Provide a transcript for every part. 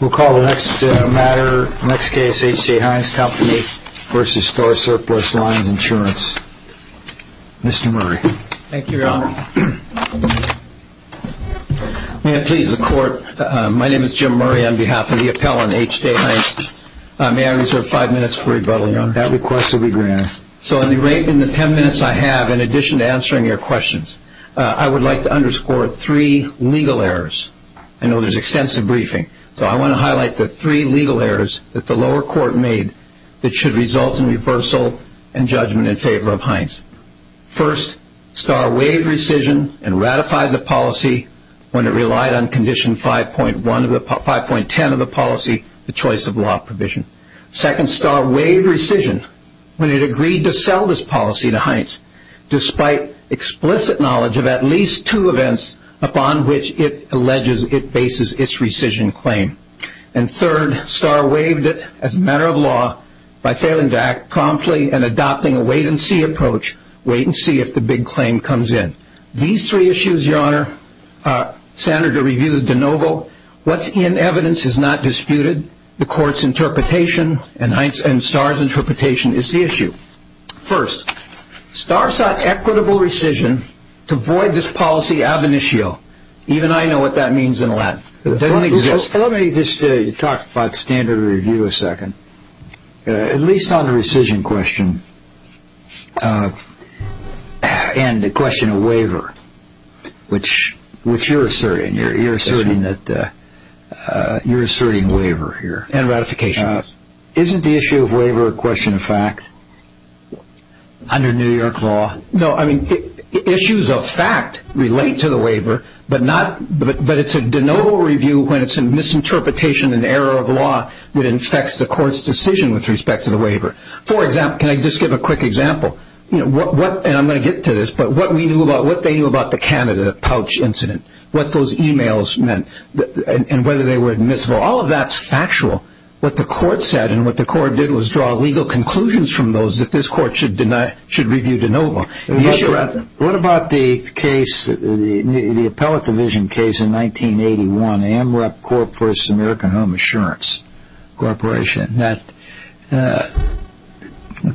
We'll call the next matter, next case, H. J. Heinz Company v. Starr Surplus Lines Insurance, Mr. Murray. Thank you, Your Honor. May it please the Court, my name is Jim Murray on behalf of the appellant, H. J. Heinz. May I reserve five minutes for rebuttal? Your Honor, that request will be granted. So in the ten minutes I have, in addition to answering your questions, I would like to underscore three legal errors. I know there's extensive briefing, so I want to highlight the three legal errors that the lower court made that should result in reversal and judgment in favor of Heinz. First, Starr waived rescission and ratified the policy when it relied on Condition 5.10 of the policy, the choice of law provision. Second, Starr waived rescission when it agreed to sell this policy to Heinz, despite explicit knowledge of at least two events upon which it alleges it bases its rescission claim. And third, Starr waived it as a matter of law by failing to act promptly and adopting a wait-and-see approach, wait and see if the big claim comes in. These three issues, Your Honor, Senator reviewed de novo. What's in evidence is not disputed. The Court's interpretation and Starr's interpretation is the issue. First, Starr sought equitable rescission to void this policy ab initio. Even I know what that means in Latin. Let me just talk about standard review a second. At least on the rescission question and the question of waiver, which you're asserting. You're asserting waiver here. And ratification. Isn't the issue of waiver a question of fact under New York law? No, I mean issues of fact relate to the waiver, but it's a de novo review when it's a misinterpretation and error of law that infects the Court's decision with respect to the waiver. For example, can I just give a quick example? And I'm going to get to this, but what they knew about the Canada pouch incident, what those e-mails meant, and whether they were admissible. All of that's factual. What the Court said and what the Court did was draw legal conclusions from those that this Court should review de novo. What about the case, the appellate division case in 1981, AMREP Corp versus American Home Assurance Corporation that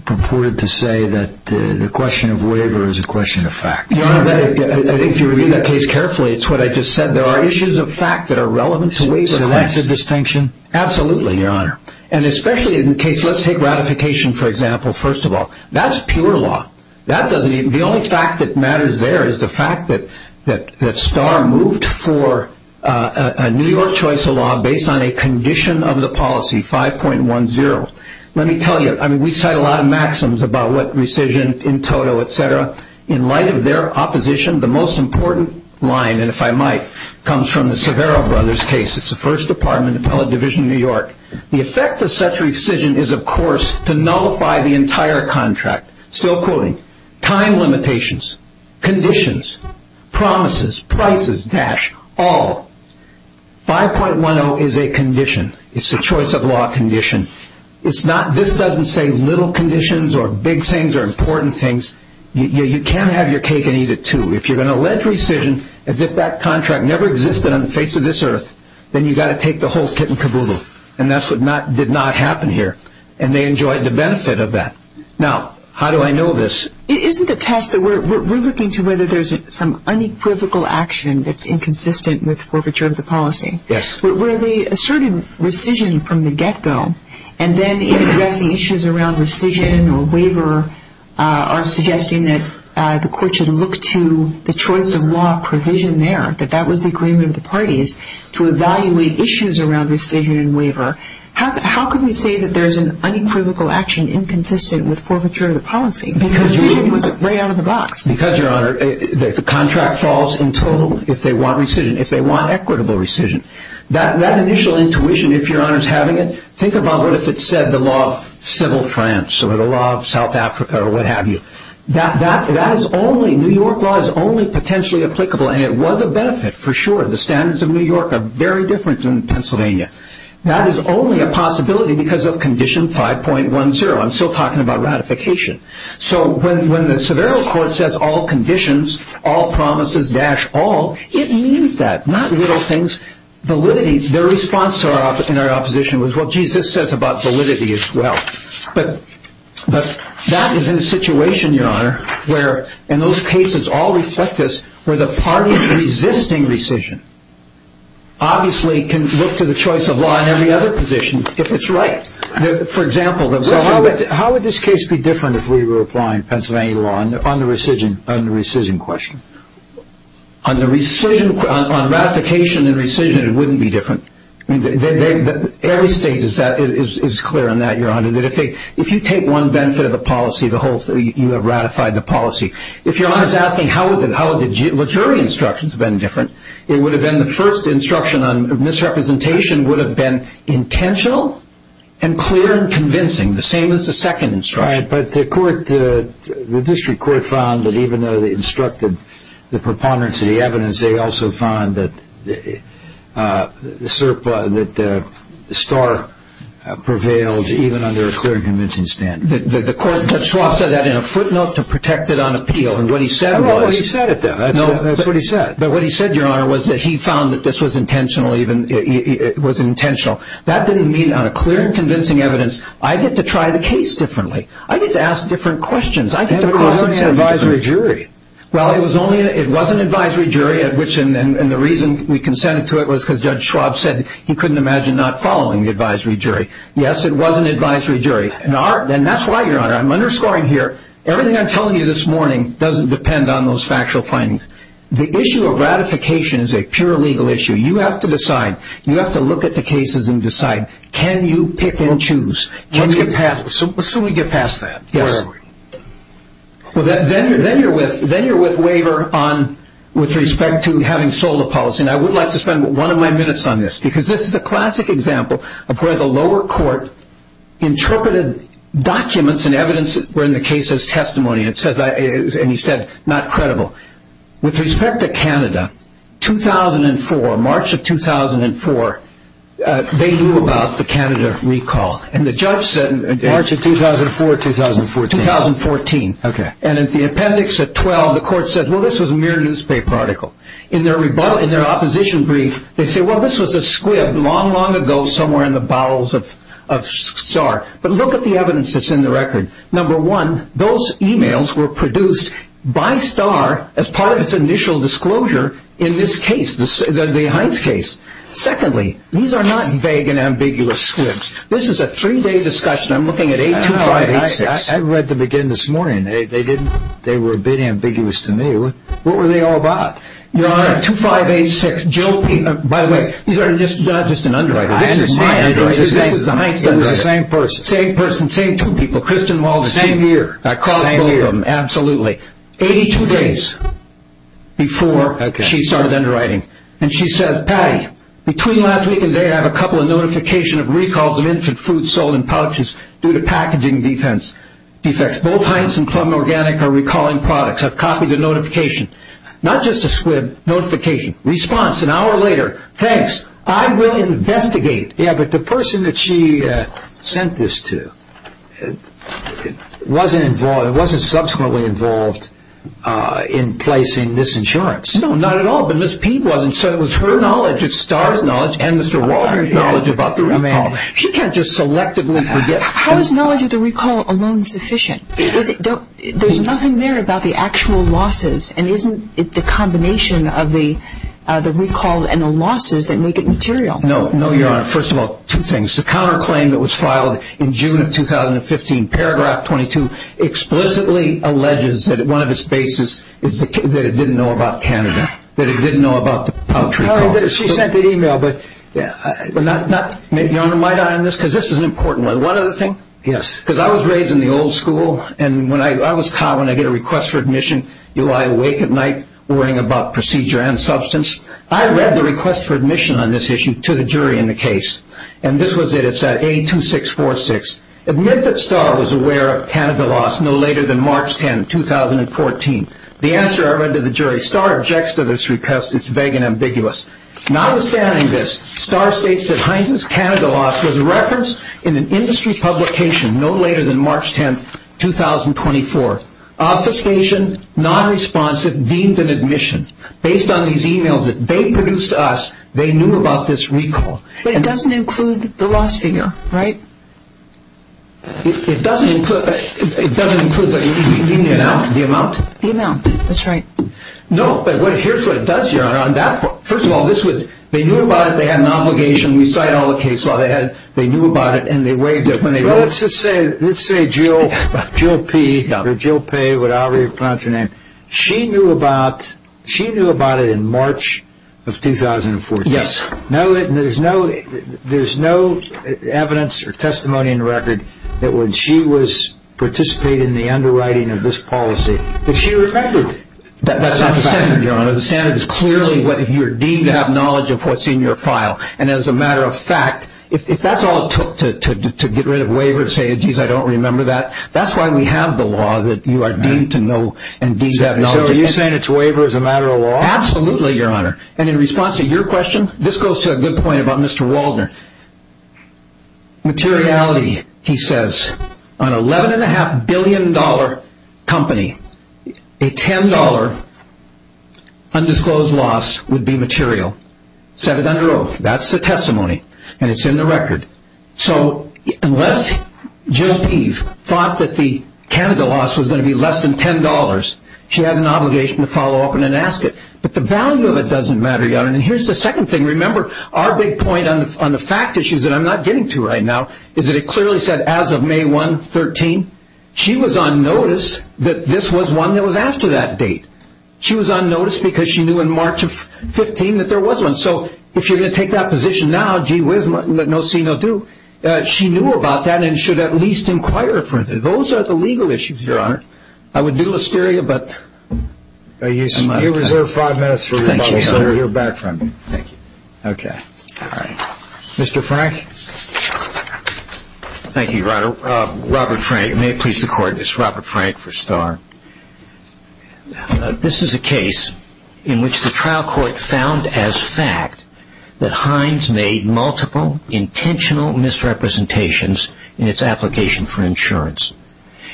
purported to say that the question of waiver is a question of fact? Your Honor, if you read the case carefully, it's what I just said. There are issues of fact that are relevant to waiver. So that's a distinction? Absolutely, Your Honor. And especially in the case, let's take ratification, for example, first of all. That's pure law. The only fact that matters there is the fact that Starr moved for a New York choice of law based on a condition of the policy, 5.10. Let me tell you, we cite a lot of maxims about what rescission in total, et cetera. In light of their opposition, the most important line, and if I might, comes from the Severo Brothers case. It's the First Department, Appellate Division, New York. The effect of such rescission is, of course, to nullify the entire contract. Still quoting, time limitations, conditions, promises, prices, dash, all. 5.10 is a condition. It's a choice of law condition. This doesn't say little conditions or big things or important things. You can't have your cake and eat it, too. If you're going to allege rescission as if that contract never existed on the face of this earth, then you've got to take the whole kit and caboodle. And that's what did not happen here. And they enjoyed the benefit of that. Now, how do I know this? Isn't the test that we're looking to whether there's some unequivocal action that's inconsistent with forfeiture of the policy? Yes. Where they asserted rescission from the get-go and then in addressing issues around rescission or waiver are suggesting that the court should look to the choice of law provision there, that that was the agreement of the parties, to evaluate issues around rescission and waiver, how can we say that there's an unequivocal action inconsistent with forfeiture of the policy? Because rescission was right out of the box. Because, Your Honor, the contract falls in total if they want rescission. That initial intuition, if Your Honor is having it, think about what if it said the law of civil France or the law of South Africa or what have you. That is only, New York law is only potentially applicable, and it was a benefit for sure. The standards of New York are very different than Pennsylvania. That is only a possibility because of condition 5.10. I'm still talking about ratification. So when the Severo Court says all conditions, all promises dash all, it means that. Not little things. Validity. Their response in our opposition was, well, geez, this says about validity as well. But that is in a situation, Your Honor, where in those cases all reflect this, where the parties resisting rescission obviously can look to the choice of law in every other position if it's right. For example, So how would this case be different if we were applying Pennsylvania law on the rescission question? On ratification and rescission, it wouldn't be different. Every state is clear on that, Your Honor. If you take one benefit of a policy, you have ratified the policy. If Your Honor is asking how would the jury instructions have been different, it would have been the first instruction on misrepresentation would have been intentional and clear and convincing, the same as the second instruction. But the court, the district court, found that even though they instructed the preponderance of the evidence, they also found that Star prevailed even under a clear and convincing standard. The court said that in a footnote to protect it on appeal, and what he said was Well, he said it then. That's what he said. But what he said, Your Honor, was that he found that this was intentional. That didn't mean on a clear and convincing evidence, I get to try the case differently. I get to ask different questions. It was only an advisory jury. Well, it was an advisory jury, and the reason we consented to it was because Judge Schwab said he couldn't imagine not following the advisory jury. Yes, it was an advisory jury. And that's why, Your Honor, I'm underscoring here, everything I'm telling you this morning doesn't depend on those factual findings. The issue of ratification is a pure legal issue. You have to decide. You have to look at the cases and decide. Can you pick and choose? Let's get past that. Yes. Then you're with Waver with respect to having sold a policy, and I would like to spend one of my minutes on this because this is a classic example of where the lower court interpreted documents and evidence that were in the case as testimony, and he said not credible. With respect to Canada, 2004, March of 2004, they knew about the Canada recall. March of 2004 or 2014? 2014. Okay. And at the appendix at 12, the court said, well, this was a mere newspaper article. In their opposition brief, they say, well, this was a squib long, long ago somewhere in the bowels of Starr. But look at the evidence that's in the record. Number one, those emails were produced by Starr as part of its initial disclosure in this case, the Hines case. Secondly, these are not vague and ambiguous squibs. This is a three-day discussion. I'm looking at 82586. I read them again this morning. They were a bit ambiguous to me. What were they all about? Your Honor, 2586, Jill Peet. By the way, these are not just an underwriting. This is my underwriting. This is the Hines underwriting. It was the same person. Same person, same two people. Kristen Walters. The same year. I caught both of them. Absolutely. 82 days before she started underwriting. And she says, Patty, between last week and today, I have a couple of notification of recalls of infant food sold in pouches due to packaging defects. Both Hines and Club Organic are recalling products. I've copied the notification. Not just a squib notification. Response, an hour later. Thanks. I will investigate. Yeah, but the person that she sent this to wasn't involved. It wasn't subsequently involved in placing this insurance. No, not at all. But Ms. Peet wasn't. So it was her knowledge, it's Starr's knowledge, and Mr. Walters' knowledge about the recall. She can't just selectively forget. How is knowledge of the recall alone sufficient? There's nothing there about the actual losses, and isn't it the combination of the recall and the losses that make it material? No, Your Honor. First of all, two things. The counterclaim that was filed in June of 2015, paragraph 22, explicitly alleges that one of its bases is that it didn't know about Canada, that it didn't know about the poultry recall. No, she sent an email. Your Honor, might I on this? Because this is an important one. One other thing. Yes. Because I was raised in the old school, and when I was caught when I get a request for admission, do I awake at night worrying about procedure and substance? I read the request for admission on this issue to the jury in the case, and this was it. It said A2646. Admit that Starr was aware of Canada loss no later than March 10, 2014. The answer I read to the jury, Starr objects to this request. It's vague and ambiguous. Notwithstanding this, Starr states that Heinz's Canada loss was referenced in an industry publication no later than March 10, 2024. Obfuscation, nonresponsive, deemed an admission. Based on these emails that they produced to us, they knew about this recall. But it doesn't include the loss figure, right? It doesn't include the amount? The amount, that's right. No, but here's what it does, Your Honor. First of all, they knew about it. They had an obligation. We cite all the case law. They knew about it, and they waived it. Well, let's just say Jill P, or Jill P, whatever you pronounce your name, she knew about it in March of 2014. Yes. There's no evidence or testimony in record that when she was participating in the underwriting of this policy that she remembered. That's not the standard, Your Honor. The standard is clearly what you're deemed to have knowledge of what's in your file. And as a matter of fact, if that's all it took to get rid of a waiver to say, geez, I don't remember that, that's why we have the law that you are deemed to know and deemed to have knowledge. So are you saying it's a waiver as a matter of law? Absolutely, Your Honor. And in response to your question, this goes to a good point about Mr. Waldner. Materiality, he says, an $11.5 billion company, a $10 undisclosed loss would be material. Said it under oath. That's the testimony, and it's in the record. So unless Jill P thought that the Canada loss was going to be less than $10, she had an obligation to follow up and then ask it. But the value of it doesn't matter, Your Honor. And here's the second thing. Remember, our big point on the fact issues that I'm not getting to right now is that it clearly said as of May 1, 2013, she was on notice that this was one that was after that date. She was on notice because she knew in March of 15 that there was one. So if you're going to take that position now, gee whiz, let no see, no do. She knew about that and should at least inquire further. Those are the legal issues, Your Honor. I would do Listeria, but I'm out of time. You're reserved five minutes for rebuttal, so you'll hear back from me. Thank you. Okay. All right. Mr. Frank? Thank you, Your Honor. Robert Frank. May it please the Court, this is Robert Frank for Starr. This is a case in which the trial court found as fact that Hines made multiple intentional misrepresentations in its application for insurance.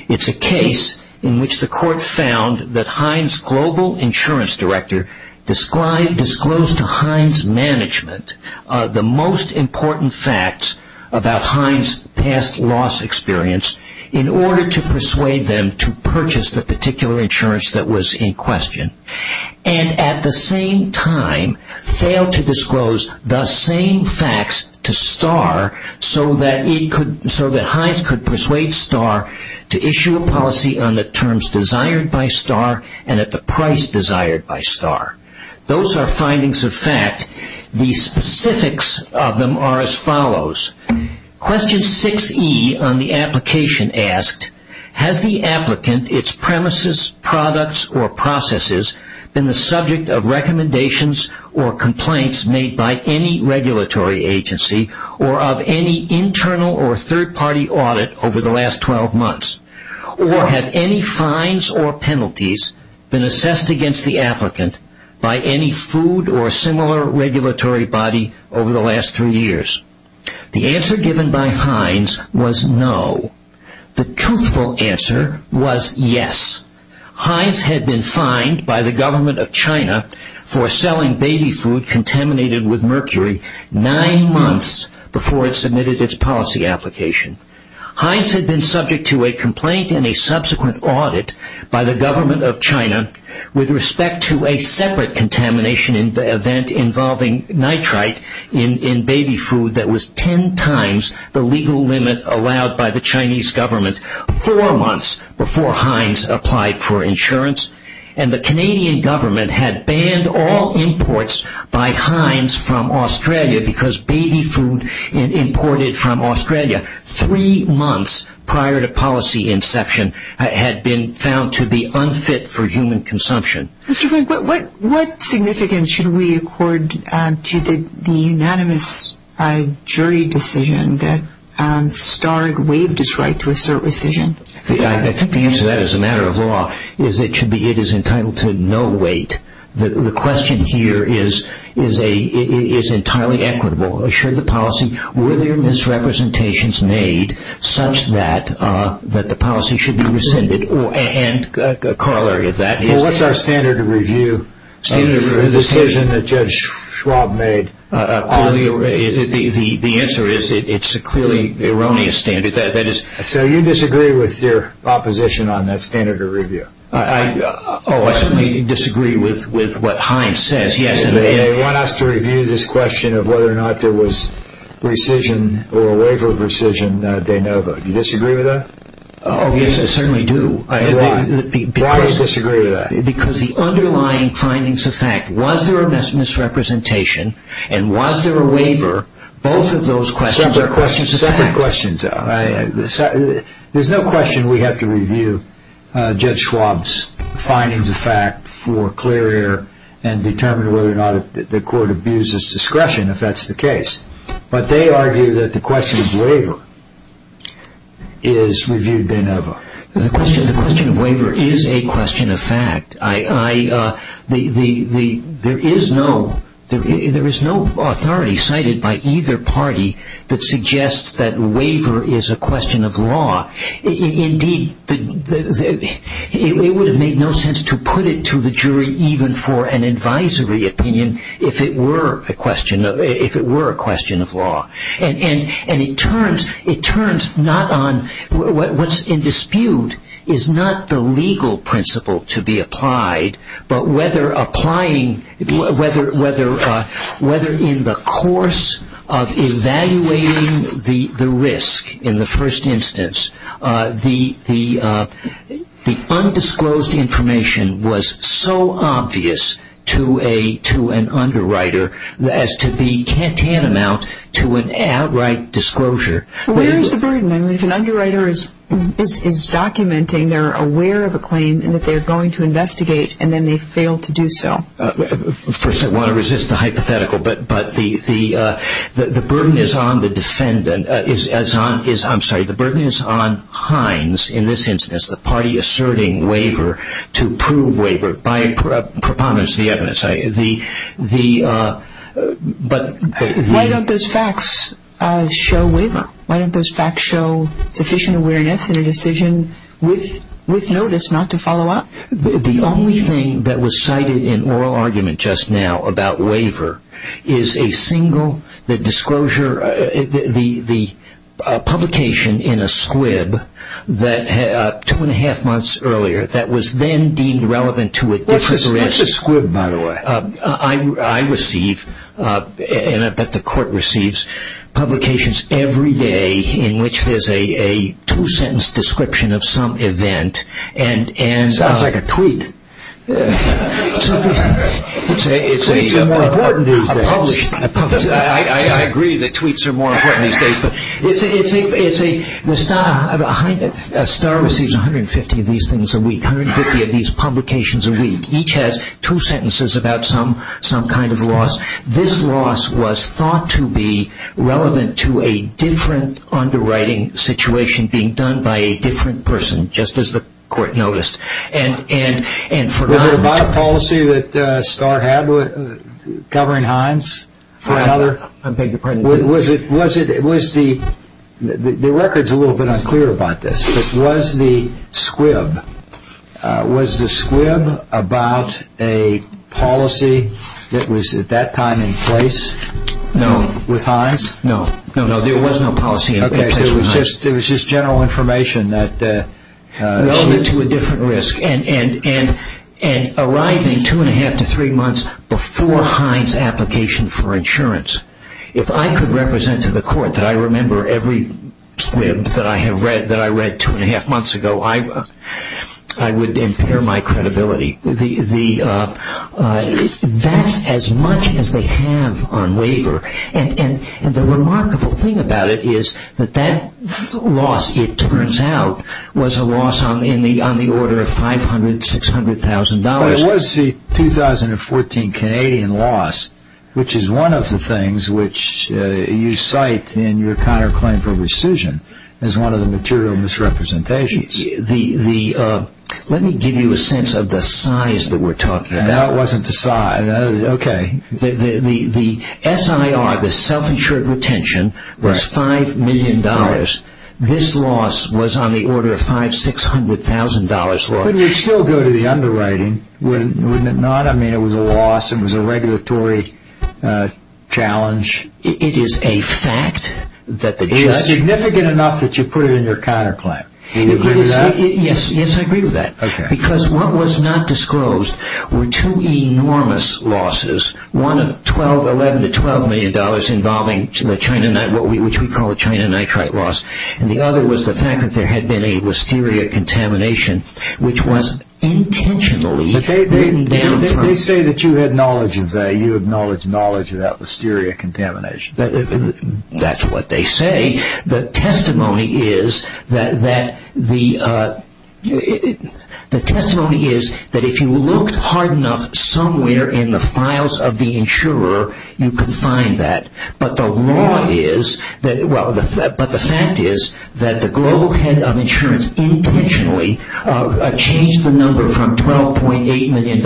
It's a case in which the court found that Hines' global insurance director disclosed to Hines' management the most important facts about Hines' past loss experience in order to persuade them to purchase the particular insurance that was in question and at the same time failed to disclose the same facts to Starr so that Hines could persuade Starr to issue a policy on the terms desired by Starr and at the price desired by Starr. Those are findings of fact. The specifics of them are as follows. Question 6E on the application asked, has the applicant, its premises, products, or processes been the subject of recommendations or complaints made by any regulatory agency or of any internal or third-party audit over the last 12 months? Or have any fines or penalties been assessed against the applicant by any food or similar regulatory body over the last three years? The answer given by Hines was no. The truthful answer was yes. Hines had been fined by the government of China for selling baby food contaminated with mercury nine months before it submitted its policy application. Hines had been subject to a complaint and a subsequent audit by the government of China with respect to a separate contamination event involving nitrite in baby food that was ten times the legal limit allowed by the Chinese government four months before Hines applied for insurance. And the Canadian government had banned all imports by Hines from Australia because baby food imported from Australia three months prior to policy inception had been found to be unfit for human consumption. Mr. Frank, what significance should we accord to the unanimous jury decision that Starg waived his right to assert rescission? I think the answer to that is a matter of law. It is entitled to no weight. The question here is entirely equitable. Were there misrepresentations made such that the policy should be rescinded? What is our standard of review of the decision that Judge Schwab made? The answer is it is a clearly erroneous standard. So you disagree with your opposition on that standard of review? I certainly disagree with what Hines says. They want us to review this question of whether or not there was rescission or a waiver of rescission of De Novo. Do you disagree with that? Yes, I certainly do. Why do you disagree with that? Because the underlying findings of fact, was there a misrepresentation and was there a waiver, both of those questions are questions of fact. Separate questions. There is no question we have to review Judge Schwab's findings of fact for clear air and determine whether or not the court abuses discretion, if that's the case. But they argue that the question of waiver is reviewed De Novo. The question of waiver is a question of fact. There is no authority cited by either party that suggests that waiver is a question of law. Indeed, it would have made no sense to put it to the jury even for an advisory opinion if it were a question of law. And it turns not on what's in dispute is not the legal principle to be applied, but whether in the course of evaluating the risk in the first instance, the undisclosed information was so obvious to an underwriter as to be tantamount to an outright disclosure. Where is the burden? If an underwriter is documenting, they're aware of a claim and that they're going to investigate and then they fail to do so. First, I want to resist the hypothetical, but the burden is on the defendant. I'm sorry, the burden is on Hines in this instance, the party asserting waiver to prove waiver by preponderance of the evidence. Why don't those facts show waiver? Why don't those facts show sufficient awareness in a decision with notice not to follow up? The only thing that was cited in oral argument just now about waiver is a single, the disclosure, the publication in a squib two and a half months earlier that was then deemed relevant to a different risk. What's a squib, by the way? I receive, and I bet the court receives, publications every day in which there's a two-sentence description of some event. Sounds like a tweet. Tweets are more important these days. I agree that tweets are more important these days. A star receives 150 of these things a week, 150 of these publications a week. Each has two sentences about some kind of loss. This loss was thought to be relevant to a different underwriting situation being done by a different person, just as the court noticed. Was it about a policy that Starr had covering Hines? The record's a little bit unclear about this, but was the squib, was the squib about a policy that was at that time in place? No. With Hines? No. No, there was no policy in place with Hines. Okay, so it was just general information that was relevant to a different risk. And arriving two and a half to three months before Hines' application for insurance, if I could represent to the court that I remember every squib that I read two and a half months ago, I would impair my credibility. That's as much as they have on waiver. And the remarkable thing about it is that that loss, it turns out, was a loss on the order of $500,000, $600,000. It was the 2014 Canadian loss, which is one of the things which you cite in your counterclaim for rescission as one of the material misrepresentations. Let me give you a sense of the size that we're talking about. Now it wasn't the size. Okay. The SIR, the self-insured retention, was $5 million. This loss was on the order of $500,000, $600,000. But it would still go to the underwriting, wouldn't it not? I mean, it was a loss. It was a regulatory challenge. It is a fact that the judge It is significant enough that you put it in your counterclaim. Do you agree with that? Yes, yes, I agree with that. Okay. Because what was not disclosed were two enormous losses, one of $11 million to $12 million involving the China nitrate loss, and the other was the fact that there had been a listeria contamination, which was intentionally written down from They say that you had knowledge of that. You acknowledge knowledge of that listeria contamination. That's what they say. The testimony is that if you looked hard enough somewhere in the files of the insurer, you could find that. But the fact is that the global head of insurance intentionally changed the number from $12.8 million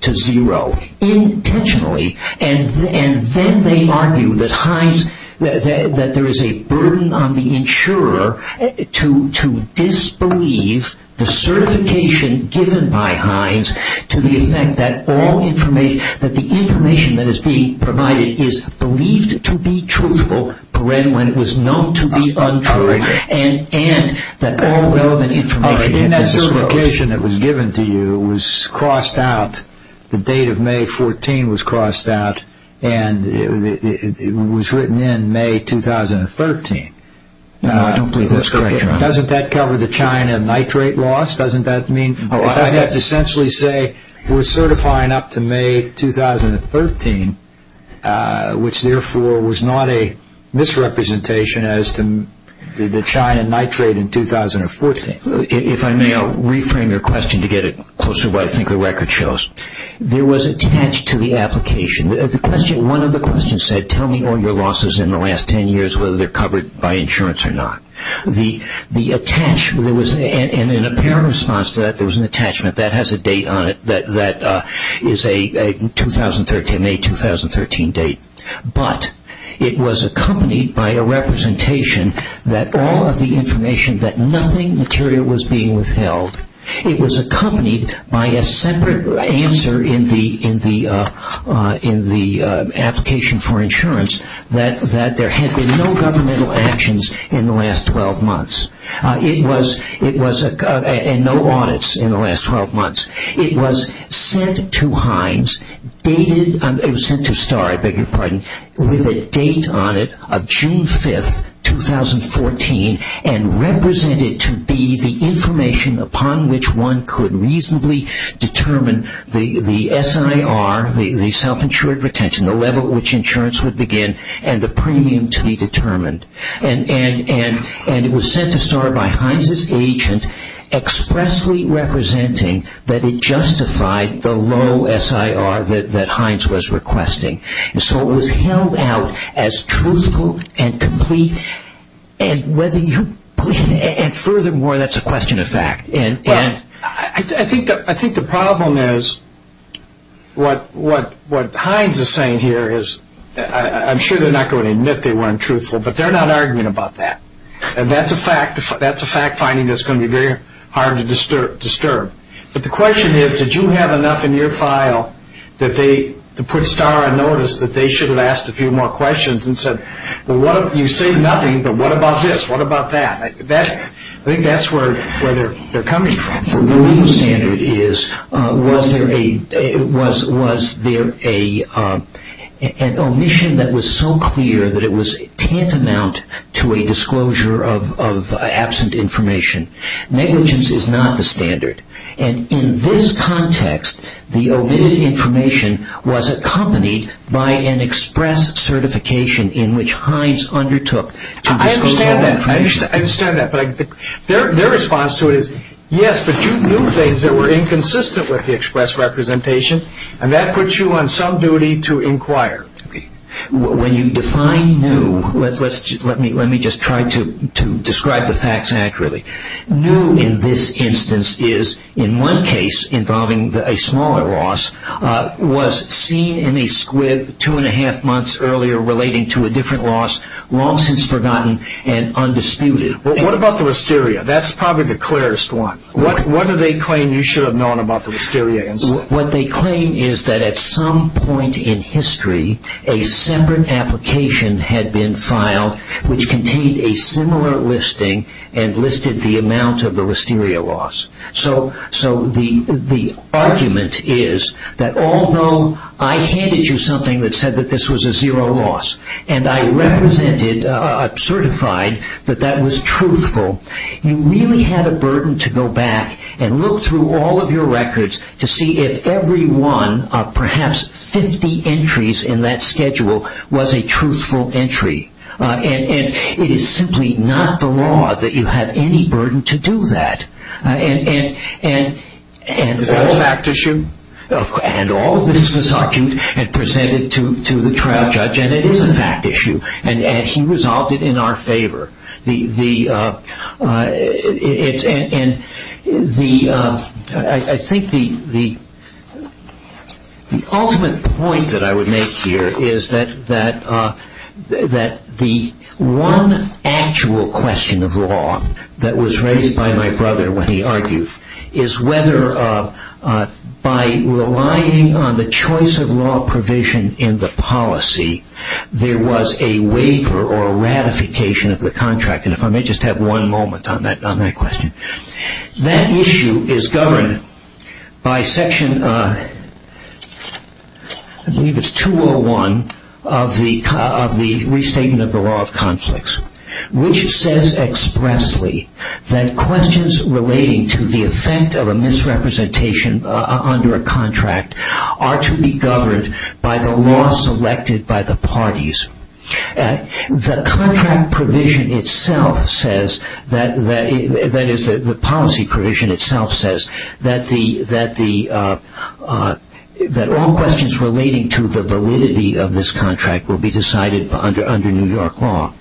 to zero. Intentionally. And then they argue that there is a burden on the insurer to disbelieve the certification given by Hines to the effect that the information that is being provided is believed to be truthful when it was known to be untrue, and that all relevant information had been disclosed. In that certification that was given to you, it was crossed out, the date of May 14 was crossed out, and it was written in May 2013. No, I don't believe that's correct, John. Doesn't that cover the China nitrate loss? Doesn't that mean? I have to essentially say we're certifying up to May 2013, which therefore was not a misrepresentation as to the China nitrate in 2014. If I may, I'll reframe your question to get it closer to what I think the record shows. There was attached to the application, one of the questions said, tell me all your losses in the last 10 years, whether they're covered by insurance or not. And in a parent response to that, there was an attachment that has a date on it that is a May 2013 date. But it was accompanied by a representation that all of the information, that nothing material was being withheld. It was accompanied by a separate answer in the application for insurance that there had been no governmental actions in the last 12 months and no audits in the last 12 months. It was sent to Hines, it was sent to Star, I beg your pardon, with a date on it of June 5, 2014 and represented to be the information upon which one could reasonably determine the SIR, the self-insured retention, the level at which insurance would begin and the premium to be determined. And it was sent to Star by Hines' agent expressly representing that it justified the low SIR that Hines was requesting. So it was held out as truthful and complete. And furthermore, that's a question of fact. I think the problem is what Hines is saying here is, I'm sure they're not going to admit they weren't truthful, but they're not arguing about that. And that's a fact finding that's going to be very hard to disturb. But the question is, did you have enough in your file to put Star on notice that they should have asked a few more questions and said, well, you say nothing, but what about this, what about that? I think that's where they're coming from. The legal standard is, was there an omission that was so clear that it was tantamount to a disclosure of absent information? Negligence is not the standard. And in this context, the omitted information was accompanied by an express certification in which Hines undertook to disclose that information. I understand that, but their response to it is, yes, but you knew things that were inconsistent with the express representation, and that puts you on some duty to inquire. When you define new, let me just try to describe the facts accurately. New in this instance is, in one case involving a smaller loss, was seen in a squib two and a half months earlier relating to a different loss, long since forgotten and undisputed. What about the wisteria? That's probably the clearest one. What do they claim you should have known about the wisteria? What they claim is that at some point in history, a separate application had been filed which contained a similar listing and listed the amount of the wisteria loss. So the argument is that although I handed you something that said that this was a zero loss, and I represented, certified that that was truthful, you really had a burden to go back and look through all of your records to see if every one of perhaps 50 entries in that schedule was a truthful entry. It is simply not the law that you have any burden to do that. Is that a fact issue? All of this was presented to the trial judge, and it is a fact issue, and he resolved it in our favor. I think the ultimate point that I would make here is that the one actual question of law that was raised by my brother when he argued is whether by relying on the choice of law provision in the policy, there was a waiver or ratification of the contract. If I may just have one moment on that question. That issue is governed by section 201 of the Restatement of the Law of Conflicts, which says expressly that questions relating to the effect of a misrepresentation under a contract are to be governed by the law selected by the parties. The contract provision itself says, that is the policy provision itself says, that all questions relating to the validity of this contract will be decided under New York law.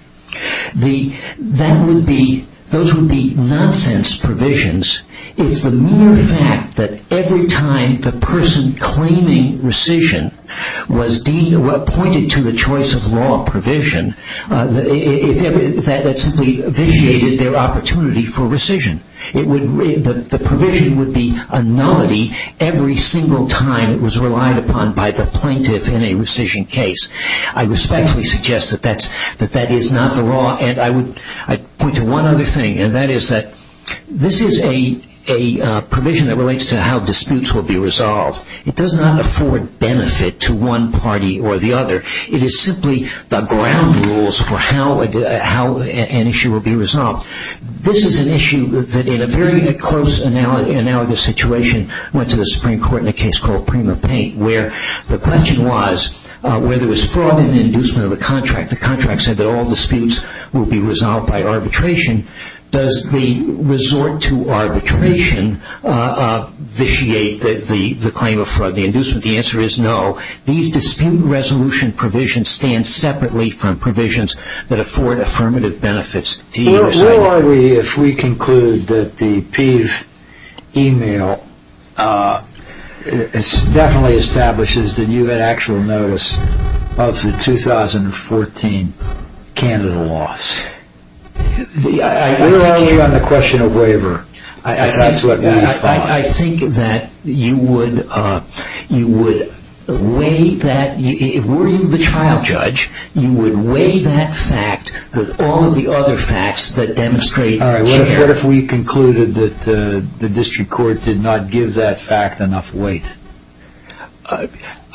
Those would be nonsense provisions. It's the mere fact that every time the person claiming rescission was pointed to the choice of law provision, that simply vitiated their opportunity for rescission. The provision would be a nullity every single time it was relied upon by the plaintiff in a rescission case. I respectfully suggest that that is not the law. I'd point to one other thing, and that is that this is a provision that relates to how disputes will be resolved. It does not afford benefit to one party or the other. It is simply the ground rules for how an issue will be resolved. This is an issue that in a very close, analogous situation went to the Supreme Court in a case called Prima Paint, where the question was whether there was fraud in the inducement of the contract. In fact, the contract said that all disputes will be resolved by arbitration. Does the resort to arbitration vitiate the claim of fraud in the inducement? The answer is no. These dispute resolution provisions stand separately from provisions that afford affirmative benefits. Where are we if we conclude that the Peave email definitely establishes that you had actual notice of the 2014 candidate loss? Where are we on the question of waiver? That's what we thought. I think that you would weigh that. If you were the trial judge, you would weigh that fact with all of the other facts that demonstrate. Where are we if we concluded that the district court did not give that fact enough weight?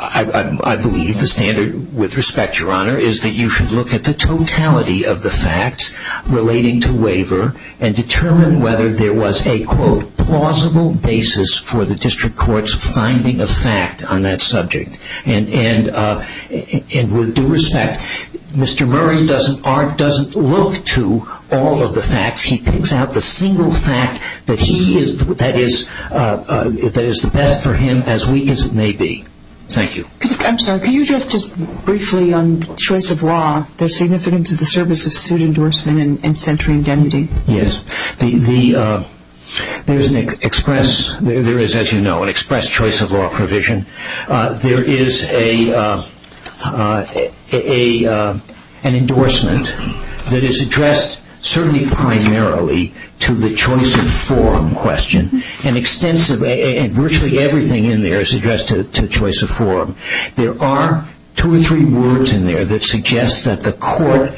I believe the standard, with respect, Your Honor, is that you should look at the totality of the facts relating to waiver and determine whether there was a, quote, plausible basis for the district court's finding of fact on that subject. And with due respect, Mr. Murray doesn't look to all of the facts. He picks out the single fact that is the best for him, as weak as it may be. Thank you. I'm sorry. Can you address just briefly on choice of law, the significance of the service of suit endorsement and centering indemnity? Yes. There is, as you know, an express choice of law provision. There is an endorsement that is addressed certainly primarily to the choice of forum question, and virtually everything in there is addressed to choice of forum. There are two or three words in there that suggest that the court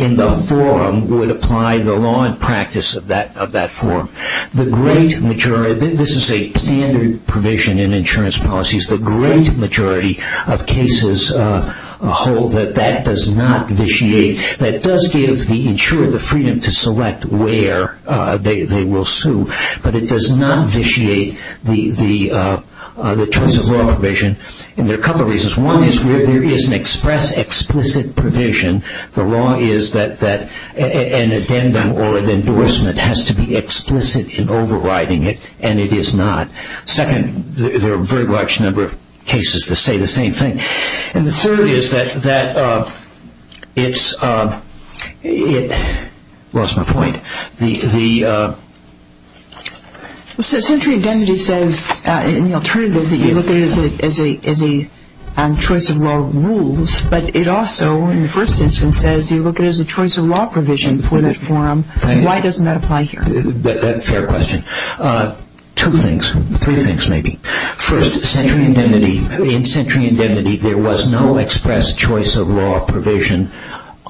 in the forum would apply the law and practice of that forum. This is a standard provision in insurance policies. The great majority of cases hold that that does not vitiate. That does give the insurer the freedom to select where they will sue. But it does not vitiate the choice of law provision, and there are a couple of reasons. One is there is an express explicit provision. The law is that an addendum or an endorsement has to be explicit in overriding it, and it is not. Second, there are a very large number of cases that say the same thing. And the third is that it's – lost my point. Centering indemnity says in the alternative that you look at it as a choice of law rules, but it also in the first instance says you look at it as a choice of law provision for that forum. Why doesn't that apply here? Fair question. Two things, three things maybe. First, centering indemnity, in centering indemnity there was no express choice of law provision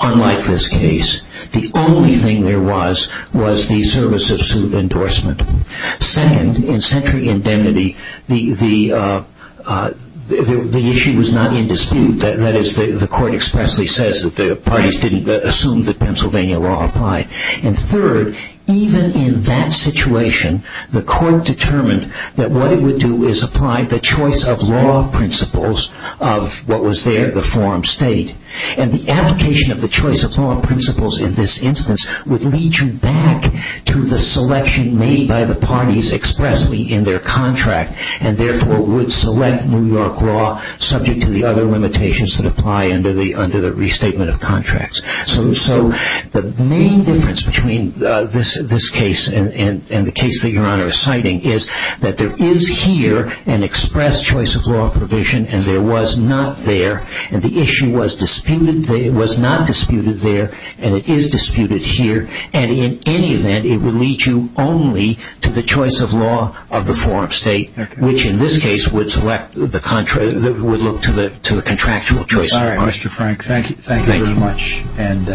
unlike this case. The only thing there was was the service of suit endorsement. Second, in centering indemnity the issue was not in dispute. That is, the court expressly says that the parties didn't assume that Pennsylvania law applied. And third, even in that situation, the court determined that what it would do is apply the choice of law principles of what was there, the forum state. And the application of the choice of law principles in this instance would lead you back to the selection made by the parties expressly in their contract, and therefore would select New York law subject to the other limitations that apply under the restatement of contracts. So the main difference between this case and the case that Your Honor is citing is that there is here an express choice of law provision, and there was not there, and the issue was not disputed there, and it is disputed here. And in any event, it would lead you only to the choice of law of the forum state, which in this case would look to the contractual choice of law. Thank you, Mr. Frank. Thank you very much. And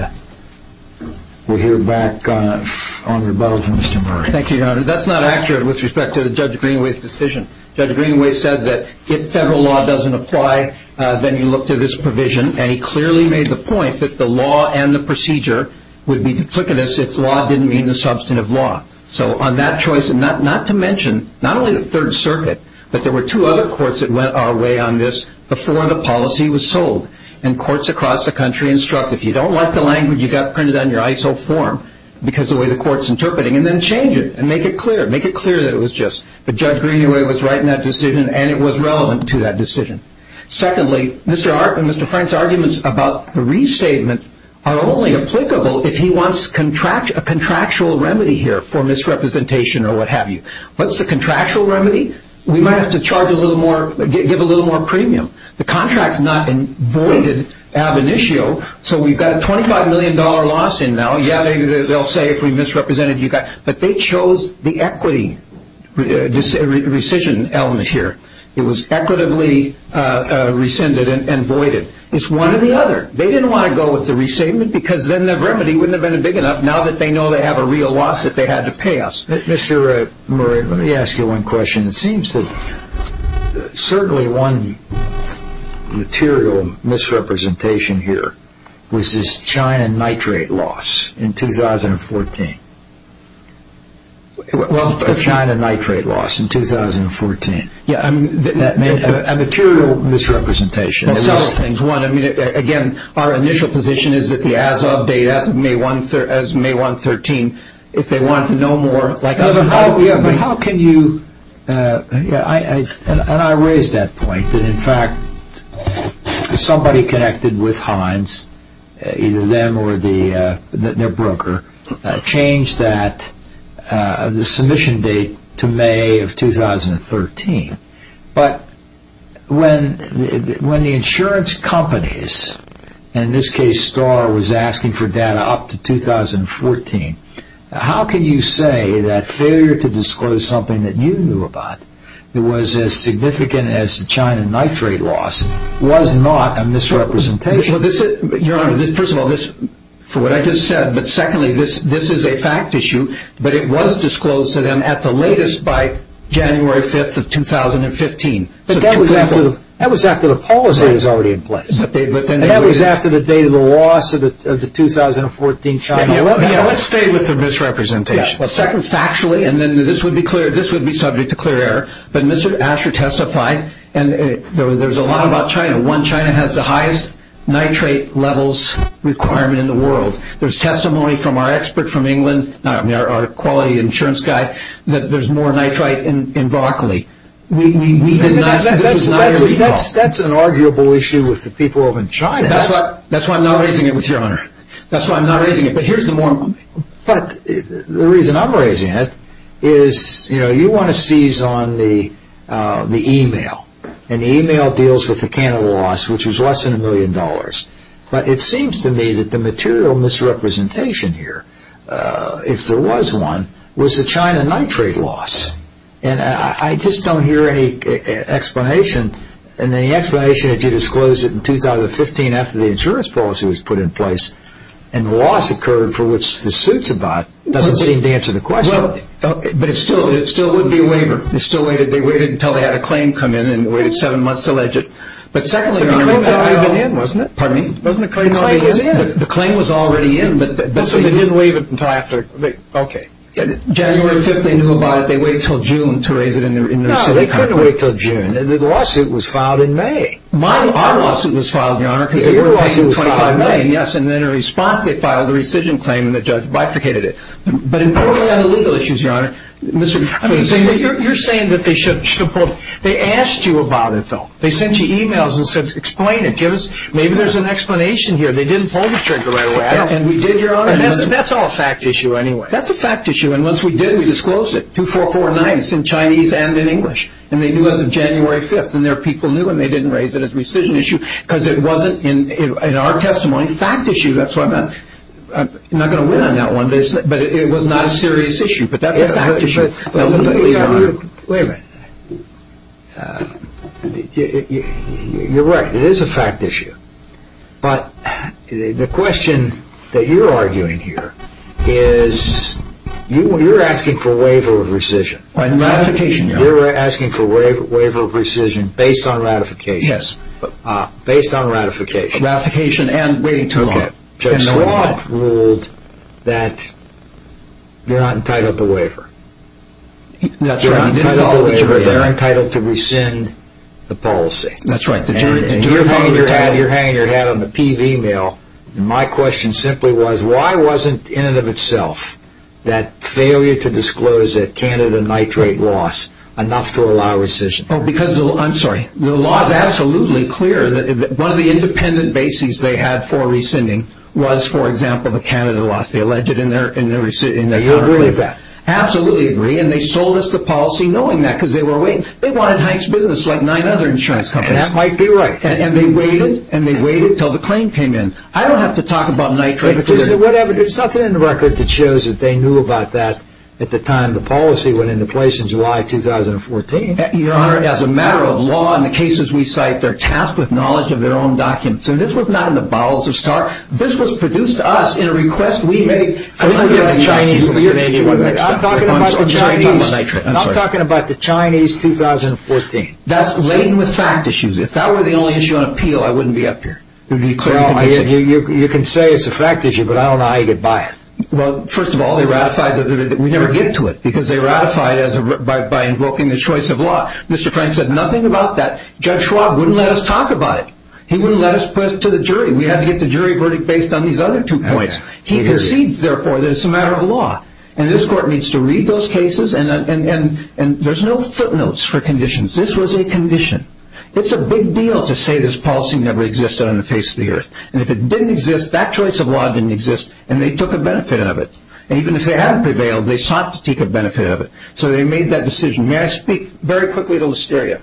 we'll hear back on rebuttal from Mr. Murray. Thank you, Your Honor. That's not accurate with respect to Judge Greenaway's decision. Judge Greenaway said that if federal law doesn't apply, then you look to this provision, and he clearly made the point that the law and the procedure would be duplicitous if law didn't mean the substantive law. So on that choice, and not to mention not only the Third Circuit, but there were two other courts that went our way on this before the policy was sold, and courts across the country instruct, if you don't like the language, you've got to print it on your ISO form, because of the way the court's interpreting it, and then change it and make it clear. Make it clear that it was just that Judge Greenaway was right in that decision and it was relevant to that decision. Secondly, Mr. Frank's arguments about the restatement are only applicable if he wants a contractual remedy here for misrepresentation or what have you. What's the contractual remedy? We might have to charge a little more, give a little more premium. The contract's not voided ab initio, so we've got a $25 million loss in now. Yeah, they'll say if we misrepresented you guys, but they chose the equity decision element here. It was equitably rescinded and voided. It's one or the other. They didn't want to go with the restatement because then the remedy wouldn't have been big enough, now that they know they have a real loss that they had to pay us. Mr. Murray, let me ask you one question. It seems that certainly one material misrepresentation here was this China nitrate loss in 2014. Well, China nitrate loss in 2014. Yeah, a material misrepresentation. Well, several things. One, again, our initial position is that the as of date, as of May 1, 2013, if they want to know more. But how can you, and I raise that point, that in fact somebody connected with Heinz, either them or their broker, changed the submission date to May of 2013. But when the insurance companies, and in this case Star was asking for data up to 2014, how can you say that failure to disclose something that you knew about, that was as significant as the China nitrate loss, was not a misrepresentation? Your Honor, first of all, for what I just said, but secondly, this is a fact issue, but it was disclosed to them at the latest by January 5, 2015. But that was after the policy was already in place. That was after the date of the loss of the 2014 China nitrate loss. Let's stay with the misrepresentation. Well, secondly, factually, and then this would be clear, this would be subject to clear error, but Mr. Asher testified, and there's a lot about China. One, China has the highest nitrate levels requirement in the world. There's testimony from our expert from England, our quality insurance guy, that there's more nitrate in broccoli. That's an arguable issue with the people of China. That's why I'm not raising it with Your Honor. That's why I'm not raising it. But the reason I'm raising it is you want to seize on the e-mail, and the e-mail deals with the Canada loss, which was less than a million dollars. But it seems to me that the material misrepresentation here, if there was one, was the China nitrate loss. And I just don't hear any explanation, and the explanation is you disclosed it in 2015 after the insurance policy was put in place, and the loss occurred for which the suits are bought. It doesn't seem to answer the question. But it still would be a waiver. They waited until they had a claim come in and waited seven months to allege it. But secondly, Your Honor, the claim was already in. So they didn't waive it until after. Okay. January 5th they knew about it. They waited until June to raise it in their city court. They didn't wait until June. The lawsuit was filed in May. My lawsuit was filed, Your Honor, because your lawsuit was filed in May. Yes, and in response they filed a rescission claim, and the judge bifurcated it. But on the legal issues, Your Honor, Mr. Zinner, you're saying that they should have pulled it. They asked you about it, though. They sent you e-mails and said, explain it. Maybe there's an explanation here. They didn't pull the trigger right away. And we did, Your Honor. That's all a fact issue anyway. That's a fact issue, and once we did, we disclosed it. It's in Chinese and in English. And they knew it was January 5th, and their people knew, and they didn't raise it as a rescission issue because it wasn't, in our testimony, a fact issue. That's why I'm not going to win on that one. But it was not a serious issue. But that's a fact issue. Wait a minute. You're right. It is a fact issue. But the question that you're arguing here is you're asking for a waiver of rescission. Ratification, Your Honor. You're asking for a waiver of rescission based on ratification. Yes. Based on ratification. Ratification and waiting too long. Okay. And the law ruled that you're not entitled to a waiver. That's right. You're not entitled to a waiver. They're entitled to rescind the policy. That's right. And you're hanging your head on the PV mill. My question simply was why wasn't, in and of itself, that failure to disclose that Canada nitrate loss enough to allow rescission? Oh, because the law is absolutely clear. One of the independent bases they had for rescinding was, for example, the Canada loss. They alleged it in their article. Do you agree with that? I absolutely agree. And they sold us the policy knowing that because they were waiting. They wanted Hank's business like nine other insurance companies. That might be right. And they waited. And they waited until the claim came in. I don't have to talk about nitrate. Whatever. There's nothing in the record that shows that they knew about that at the time the policy went into place in July 2014. Your Honor, as a matter of law, in the cases we cite, they're tasked with knowledge of their own documents. And this was not in the bowels of STAR. This was produced to us in a request we made. I'm talking about the Chinese 2014. That's laden with fact issues. If that were the only issue on appeal, I wouldn't be up here. You can say it's a fact issue, but I don't know how you get by it. Well, first of all, they ratified it. We never get to it because they ratified it by invoking the choice of law. Mr. Frank said nothing about that. Judge Schwab wouldn't let us talk about it. He wouldn't let us put it to the jury. We had to get the jury verdict based on these other two points. He concedes, therefore, that it's a matter of law. And this Court needs to read those cases. And there's no footnotes for conditions. This was a condition. It's a big deal to say this policy never existed on the face of the earth. And if it didn't exist, that choice of law didn't exist, and they took a benefit of it. And even if they hadn't prevailed, they sought to take a benefit of it. So they made that decision. May I speak very quickly to Listeria?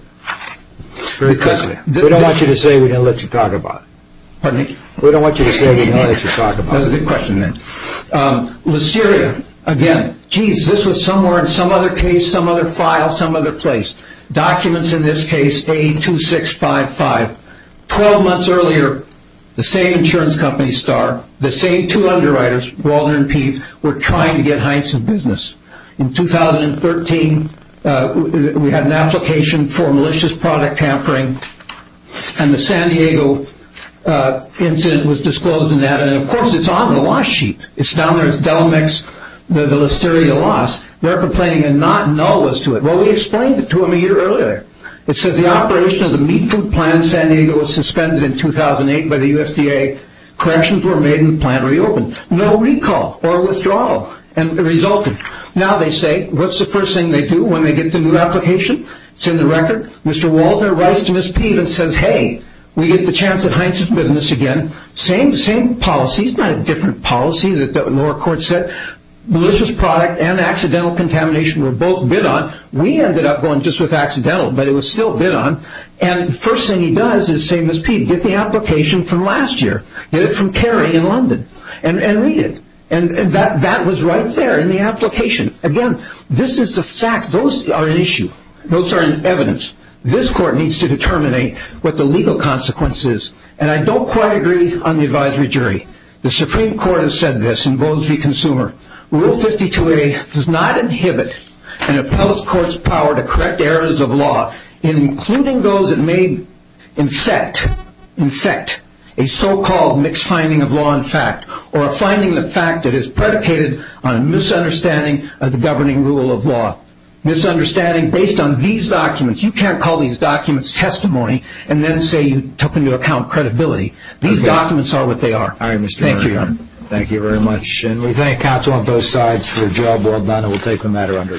Very quickly. We don't want you to say we're going to let you talk about it. Pardon me? We don't want you to say we're going to let you talk about it. That's a good question, then. Listeria. Again, geez, this was somewhere in some other case, some other file, some other place. Documents in this case, A82655. Twelve months earlier, the same insurance company, Star, the same two underwriters, Waldner and Peave, were trying to get Heinz in business. In 2013, we had an application for malicious product tampering. And the San Diego incident was disclosed in that. And, of course, it's on the loss sheet. It's down there. It's Delamix, the Listeria loss. They're complaining a not null was to it. Well, we explained it to them a year earlier. It says the operation of the meat food plant in San Diego was suspended in 2008 by the USDA. Corrections were made and the plant reopened. No recall or withdrawal resulted. Now they say, what's the first thing they do when they get the new application? It's in the record. Mr. Waldner writes to Ms. Peave and says, hey, we get the chance at Heinz's business again. Same policy. It's not a different policy that the lower court said. Malicious product and accidental contamination were both bid on. We ended up going just with accidental, but it was still bid on. And the first thing he does is, same as Peave, get the application from last year. Get it from Caring in London and read it. And that was right there in the application. Again, this is the fact. Those are an issue. Those are an evidence. This court needs to determine what the legal consequence is. And I don't quite agree on the advisory jury. The Supreme Court has said this in Bowles v. Consumer. Rule 52A does not inhibit an appellate court's power to correct errors of law, including those that may infect a so-called mixed finding of law and fact or a finding of fact that is predicated on a misunderstanding of the governing rule of law. Misunderstanding based on these documents. You can't call these documents testimony and then say you took into account credibility. These documents are what they are. Thank you, Your Honor. Thank you very much. And we thank counsel on both sides for the job well done. We'll take the matter under adjournment.